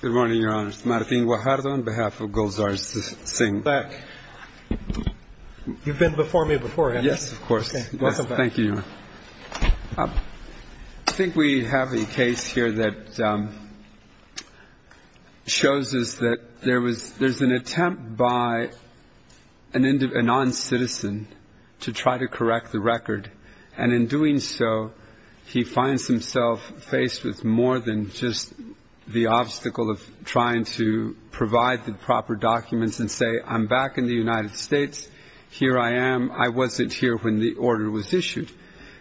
Good morning, Your Honor. Martin Guajardo on behalf of Gonzales Singh. You've been before me before, haven't you? Yes, of course. Thank you, Your Honor. I think we have a case here that shows us that there was an attempt by a non-citizen to try to correct the record. And in doing so, he finds himself faced with more than just the obstacle of trying to provide the proper documents and say, I'm back in the United States. Here I am. I wasn't here when the order was issued.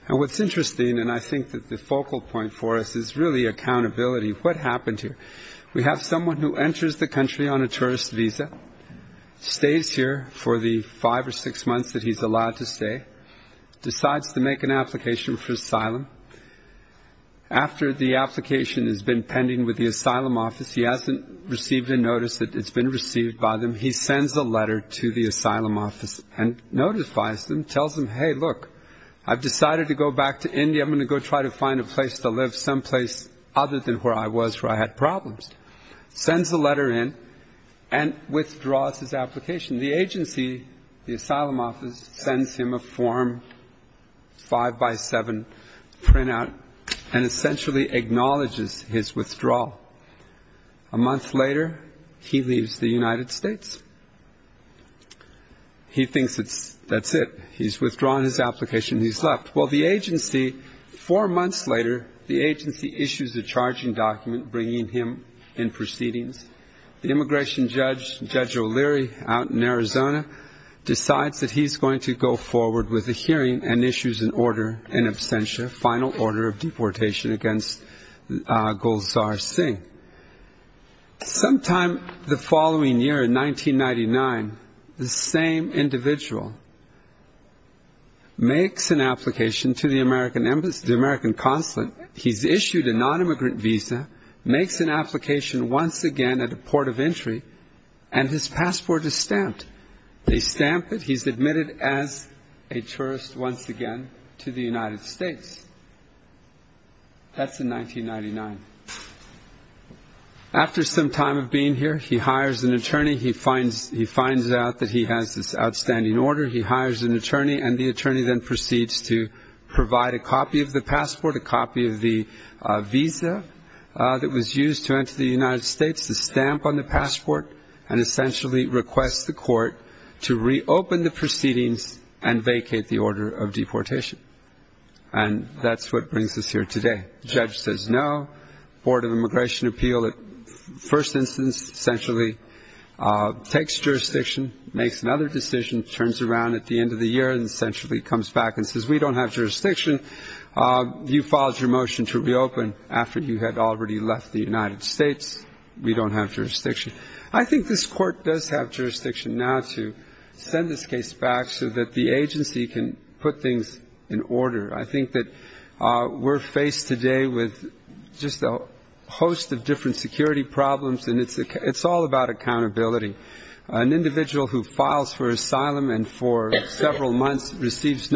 And what's interesting, and I think that the focal point for us is really accountability. What happened here? We have someone who enters the country on a tourist visa, stays here for the five or six months that he's allowed to stay, decides to make an application for asylum. After the application has been pending with the asylum office, he hasn't received a notice that it's been received by them. He sends a letter to the asylum office and notifies them, tells them, hey, look, I've decided to go back to India. I'm going to go try to find a place to live someplace other than where I was, where I had problems. Sends a letter in and withdraws his application. The agency, the asylum office, sends him a Form 5 by 7 printout and essentially acknowledges his withdrawal. A month later, he leaves the United States. He thinks that's it. He's withdrawn his application. He's left. Well, the agency, four months later, the agency issues a charging document bringing him in proceedings. The immigration judge, Judge O'Leary, out in Arizona, decides that he's going to go forward with a hearing and issues an order, an absentia, final order of deportation against Gulzar Singh. Sometime the following year, in 1999, the same individual makes an application to the American consulate. He's issued a nonimmigrant visa, makes an application once again at a port of entry, and his passport is stamped. They stamp it. He's admitted as a tourist once again to the United States. That's in 1999. After some time of being here, he hires an attorney. He finds out that he has this outstanding order. He hires an attorney, and the attorney then proceeds to provide a copy of the passport, a copy of the visa that was used to enter the United States, places the stamp on the passport, and essentially requests the court to reopen the proceedings and vacate the order of deportation. And that's what brings us here today. The judge says no. The Board of Immigration Appeals, at first instance, essentially takes jurisdiction, makes another decision, turns around at the end of the year and essentially comes back and says, we don't have jurisdiction. You filed your motion to reopen after you had already left the United States. We don't have jurisdiction. I think this court does have jurisdiction now to send this case back so that the agency can put things in order. I think that we're faced today with just a host of different security problems, and it's all about accountability. An individual who files for asylum and for several months has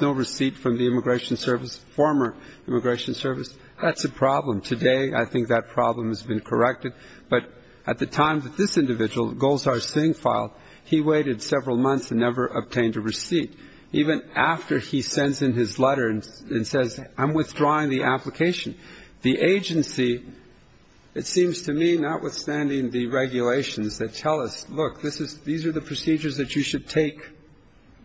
no receipt from the immigration service, former immigration service, that's a problem. Today I think that problem has been corrected. But at the time that this individual, Gulzar Singh, filed, he waited several months and never obtained a receipt, even after he sends in his letter and says, I'm withdrawing the application. The agency, it seems to me, notwithstanding the regulations that tell us, look, these are the procedures that you should take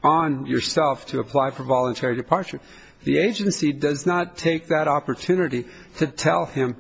on yourself to apply for voluntary departure, the agency does not take that opportunity to tell him,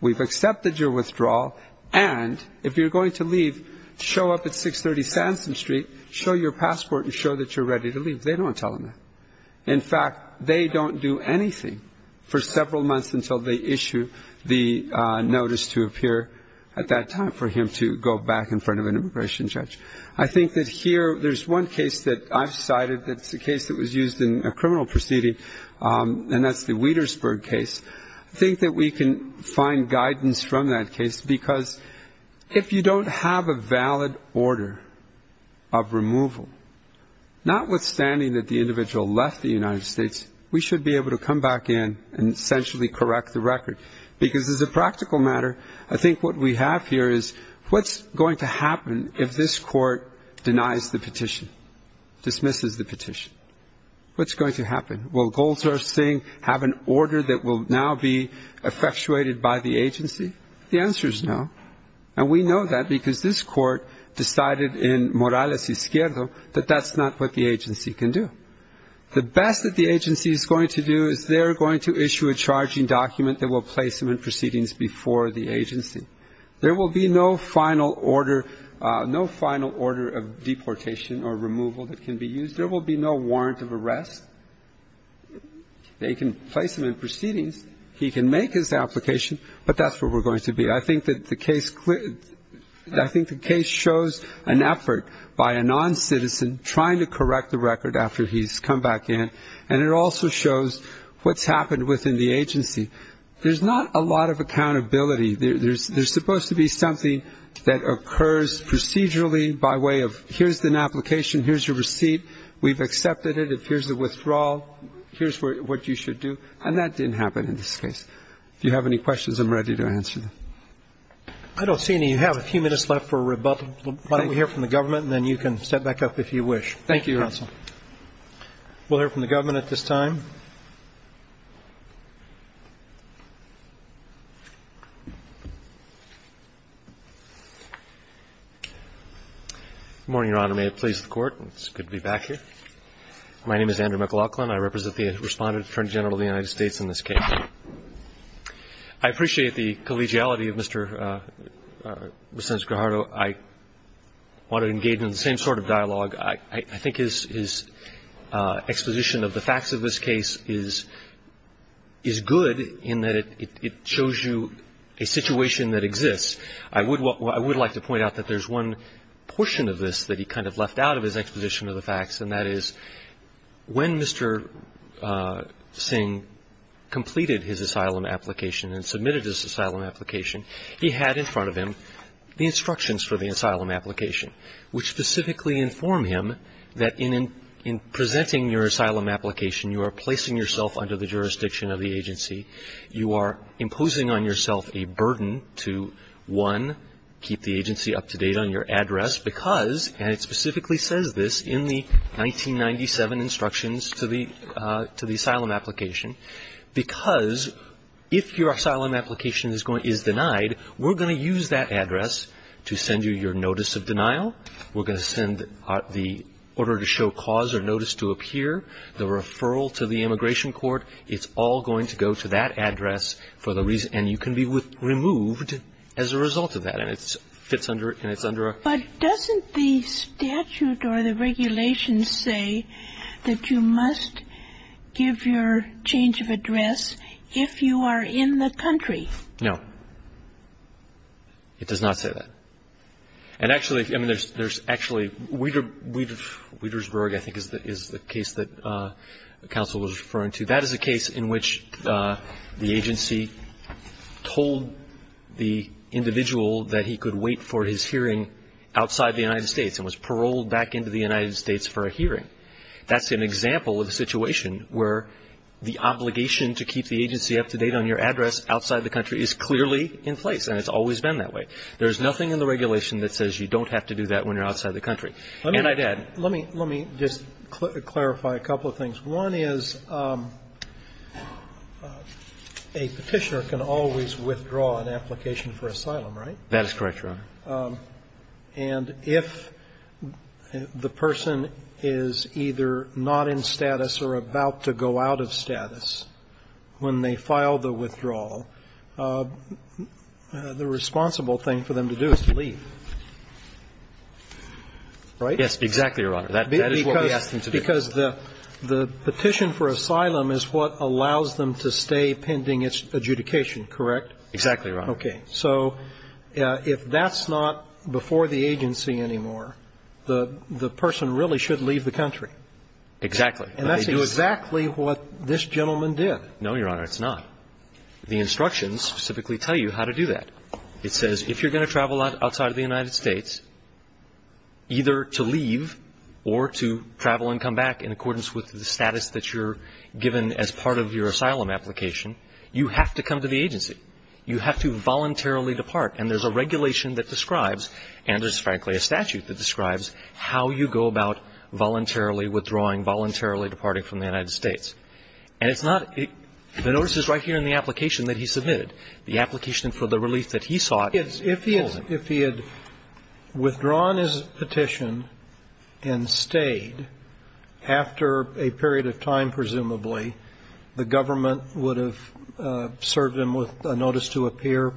we've accepted your withdrawal, and if you're going to leave, show up at 630 Sansom Street, show your passport and show that you're ready to leave. They don't tell him that. In fact, they don't do anything for several months until they issue the notice to appear at that time for him to go back in front of an immigration judge. I think that here there's one case that I've cited that's a case that was used in a criminal proceeding, and that's the Wietersburg case. I think that we can find guidance from that case, because if you don't have a valid order of removal, notwithstanding that the individual left the United States, we should be able to come back in and essentially correct the record, because as a practical matter, I think what we have here is what's going to happen if this court denies the petition, dismisses the petition? What's going to happen? Will Goldsroth Singh have an order that will now be effectuated by the agency? The answer is no. And we know that because this court decided in Morales Izquierdo that that's not what the agency can do. The best that the agency is going to do is they're going to issue a charging document that will place him in proceedings before the agency. There will be no final order of deportation or removal that can be used. There will be no warrant of arrest. They can place him in proceedings. He can make his application, but that's where we're going to be. I think that the case shows an effort by a noncitizen trying to correct the record after he's come back in, and it also shows what's happened within the agency. There's not a lot of accountability. There's supposed to be something that occurs procedurally by way of here's an application, here's your receipt, we've accepted it, here's the withdrawal, here's what you should do. And that didn't happen in this case. If you have any questions, I'm ready to answer them. I don't see any. You have a few minutes left for rebuttal. Why don't we hear from the government, and then you can step back up if you wish. Thank you, Your Honor. We'll hear from the government at this time. Good morning, Your Honor. May it please the Court. It's good to be back here. My name is Andrew McLaughlin. I represent the Respondent Attorney General of the United States in this case. I appreciate the collegiality of Mr. Lucenso-Grijardo. I want to engage in the same sort of dialogue. I think his exposition of the facts of this case is good in that it shows you a situation that exists. I would like to point out that there's one portion of this that he kind of left out of his exposition of the facts, and that is when Mr. Singh completed his asylum application and submitted his asylum application, he had in front of him the instructions for the asylum application, which specifically inform him that in presenting your asylum application, you are placing yourself under the jurisdiction of the agency. You are imposing on yourself a burden to, one, keep the agency up to date on your address because, and it specifically says this in the 1997 instructions to the asylum application, because if your asylum application is denied, we're going to use that address to send you your notice of denial. We're going to send the order to show cause or notice to appear, the referral to the immigration court. It's all going to go to that address for the reason, and you can be removed as a result of that. And it fits under, and it's under a ---- Kagan. But doesn't the statute or the regulations say that you must give your change of address if you are in the country? No. It does not say that. And actually, I mean, there's actually ---- Wietersburg, I think, is the case that counsel was referring to. That is a case in which the agency told the individual that he could wait for his hearing outside the United States and was paroled back into the United States for a hearing. That's an example of a situation where the obligation to keep the agency up to date on your address outside the country is clearly in place, and it's always been that way. There's nothing in the regulation that says you don't have to do that when you're outside the country. And I'd add ---- A Petitioner can always withdraw an application for asylum, right? That is correct, Your Honor. And if the person is either not in status or about to go out of status when they file the withdrawal, the responsible thing for them to do is to leave, right? Yes, exactly, Your Honor. That is what we ask them to do. Because the petition for asylum is what allows them to stay pending its adjudication, correct? Exactly, Your Honor. Okay. So if that's not before the agency anymore, the person really should leave the country. Exactly. And that's exactly what this gentleman did. No, Your Honor, it's not. The instructions specifically tell you how to do that. It says if you're going to travel outside of the United States, either to leave or to travel and come back in accordance with the status that you're given as part of your asylum application, you have to come to the agency. You have to voluntarily depart. And there's a regulation that describes, and there's frankly a statute that describes, how you go about voluntarily withdrawing, voluntarily departing from the United States. And it's not ---- The notice is right here in the application that he submitted, the application for the relief that he sought. If he had withdrawn his petition and stayed after a period of time, presumably, the government would have served him with a notice to appear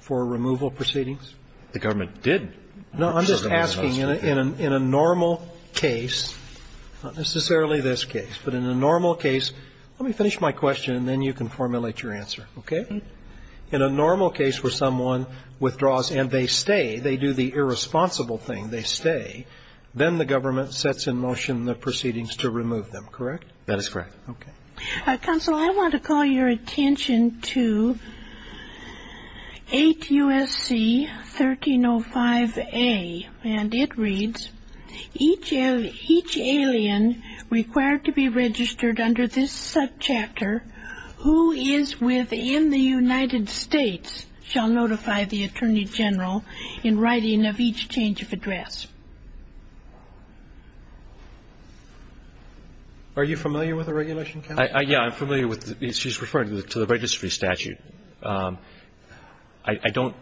for removal proceedings? The government did. No, I'm just asking, in a normal case, not necessarily this case, but in a normal case, let me finish my question and then you can formulate your answer, okay? In a normal case where someone withdraws and they stay, they do the irresponsible thing, they stay, then the government sets in motion the proceedings to remove them, correct? That is correct. Okay. Counsel, I want to call your attention to 8 U.S.C. 1305A. And it reads, each alien required to be registered under this subchapter who is within the United States shall notify the Attorney General in writing of each change of address. Are you familiar with the regulation, Counsel? Yeah, I'm familiar with it. She's referring to the registry statute. I don't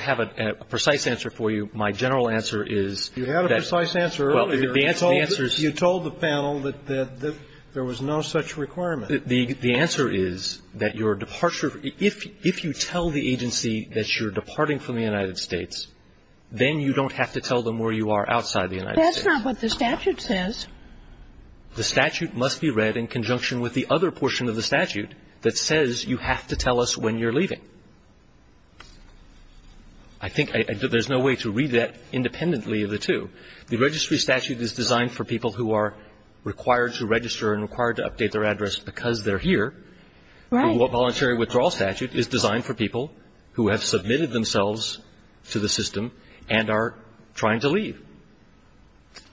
have a precise answer for you. My general answer is that you had a precise answer earlier. You told the panel that there was no such requirement. The answer is that your departure, if you tell the agency that you're departing from the United States, then you don't have to tell them where you are outside the United States. That's not what the statute says. The statute must be read in conjunction with the other portion of the statute that says you have to tell us when you're leaving. I think there's no way to read that independently of the two. The registry statute is designed for people who are required to register and required to update their address because they're here. Right. The voluntary withdrawal statute is designed for people who have submitted themselves to the system and are trying to leave.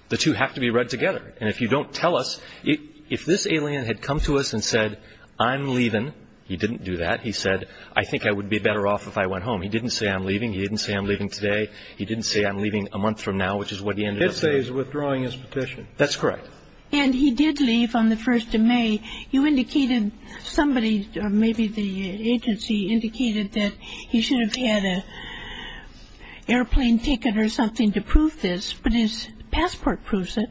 The two have to be read together. And if you don't tell us, if this alien had come to us and said, I'm leaving, he didn't do that. He said, I think I would be better off if I went home. He didn't say I'm leaving. He didn't say I'm leaving today. He didn't say I'm leaving a month from now, which is what he ended up saying. He did say he's withdrawing his petition. That's correct. And he did leave on the 1st of May. You indicated somebody, maybe the agency, indicated that he should have had an airplane ticket or something to prove this, but his passport proves it.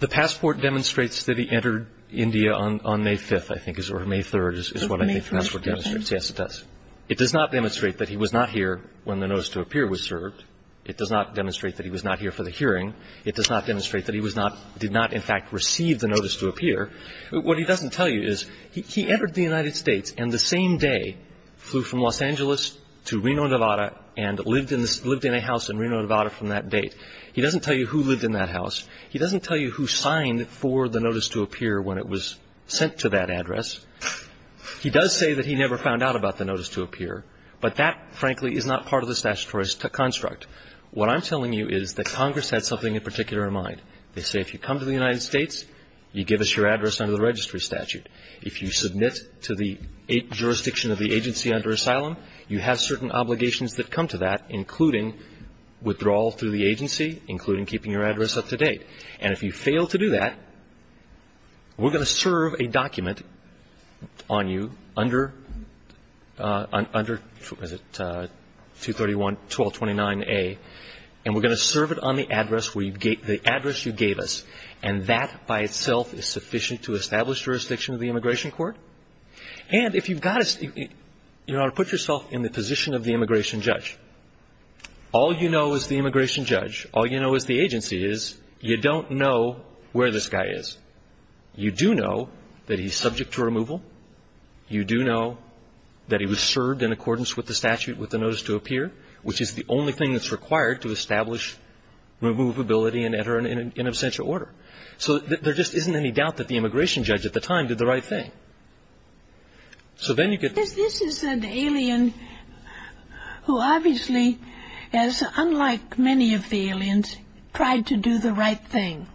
The passport demonstrates that he entered India on May 5th, I think, or May 3rd, is what the passport demonstrates. Yes, it does. It does not demonstrate that he was not here when the notice to appear was served. It does not demonstrate that he was not here for the hearing. It does not demonstrate that he did not, in fact, receive the notice to appear. What he doesn't tell you is he entered the United States and the same day flew from Los Angeles to Reno, Nevada and lived in a house in Reno, Nevada from that date. He doesn't tell you who lived in that house. He doesn't tell you who signed for the notice to appear when it was sent to that address. He does say that he never found out about the notice to appear, but that, frankly, is not part of the statutory construct. What I'm telling you is that Congress had something in particular in mind. They say if you come to the United States, you give us your address under the registry statute. If you submit to the jurisdiction of the agency under asylum, you have certain obligations that come to that, including withdrawal through the agency, including keeping your address up to date. And if you fail to do that, we're going to serve a document on you under 231, 1229A, and we're going to serve it on the address where you gave the address you gave us, and that by itself is sufficient to establish jurisdiction of the immigration court. And if you've got to put yourself in the position of the immigration judge, all you know as the immigration judge, all you know as the agency is you don't know where this guy is. You do know that he's subject to removal. You do know that he was served in accordance with the statute with the notice to appear, which is the only thing that's required to establish removability and enter in an absentia order. So there just isn't any doubt that the immigration judge at the time did the right thing. So then you get the... This is an alien who obviously has, unlike many of the aliens, tried to do the right thing.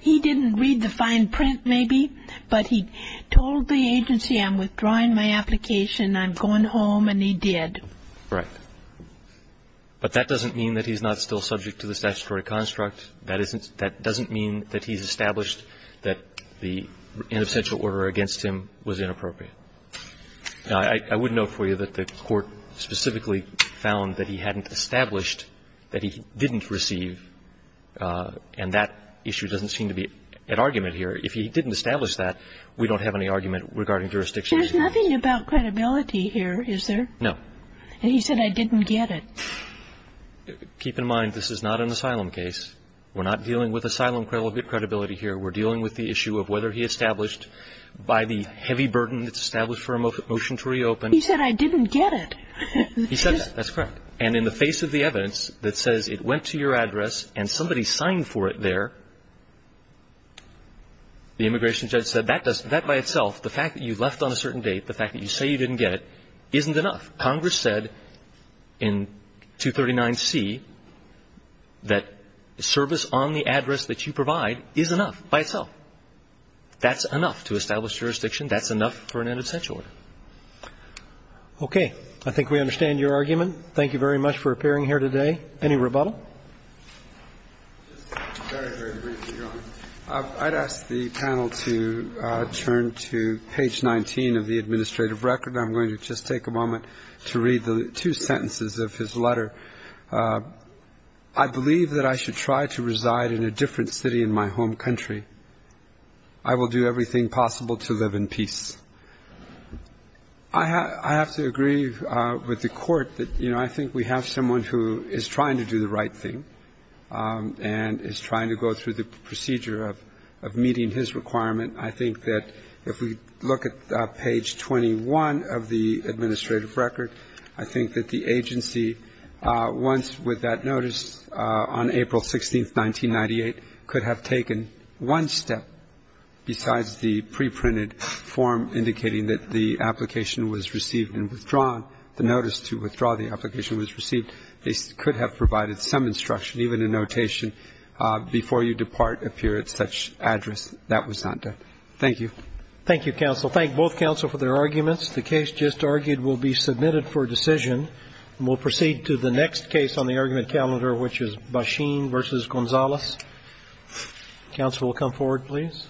He didn't read the fine print maybe, but he told the agency I'm withdrawing my application, I'm going home, and he did. Right. But that doesn't mean that he's not still subject to the statutory construct. That doesn't mean that he's established that the in absentia order against him was inappropriate. Now, I would note for you that the court specifically found that he hadn't established that he didn't receive, and that issue doesn't seem to be an argument here. If he didn't establish that, we don't have any argument regarding jurisdiction. There's nothing about credibility here, is there? And he said I didn't get it. Keep in mind, this is not an asylum case. We're not dealing with asylum credibility here. We're dealing with the issue of whether he established by the heavy burden that's established for a motion to reopen. He said I didn't get it. He said that. That's correct. And in the face of the evidence that says it went to your address and somebody signed for it there, the immigration judge said that by itself, the fact that you left on a certain date, the fact that you say you didn't get it, isn't enough. Congress said in 239C that service on the address that you provide is enough by itself. That's enough to establish jurisdiction. That's enough for an in absentia order. Okay. I think we understand your argument. Thank you very much for appearing here today. Any rebuttal? Very, very briefly, Your Honor. I'd ask the panel to turn to page 19 of the administrative record. I'm going to just take a moment to read the two sentences of his letter. I believe that I should try to reside in a different city in my home country. I will do everything possible to live in peace. I have to agree with the Court that, you know, I think we have someone who is trying to do the right thing and is trying to go through the procedure of meeting his requirement. I think that if we look at page 21 of the administrative record, I think that the agency, once with that notice on April 16, 1998, could have taken one step besides the preprinted form indicating that the application was received and withdrawn, the notice to withdraw the application was received. They could have provided some instruction, even a notation, before you depart, appear at such address. That was not done. Thank you. Thank you, counsel. Thank both counsel for their arguments. The case just argued will be submitted for decision. And we'll proceed to the next case on the argument calendar, which is Basheen v. Gonzalez. Counsel will come forward, please.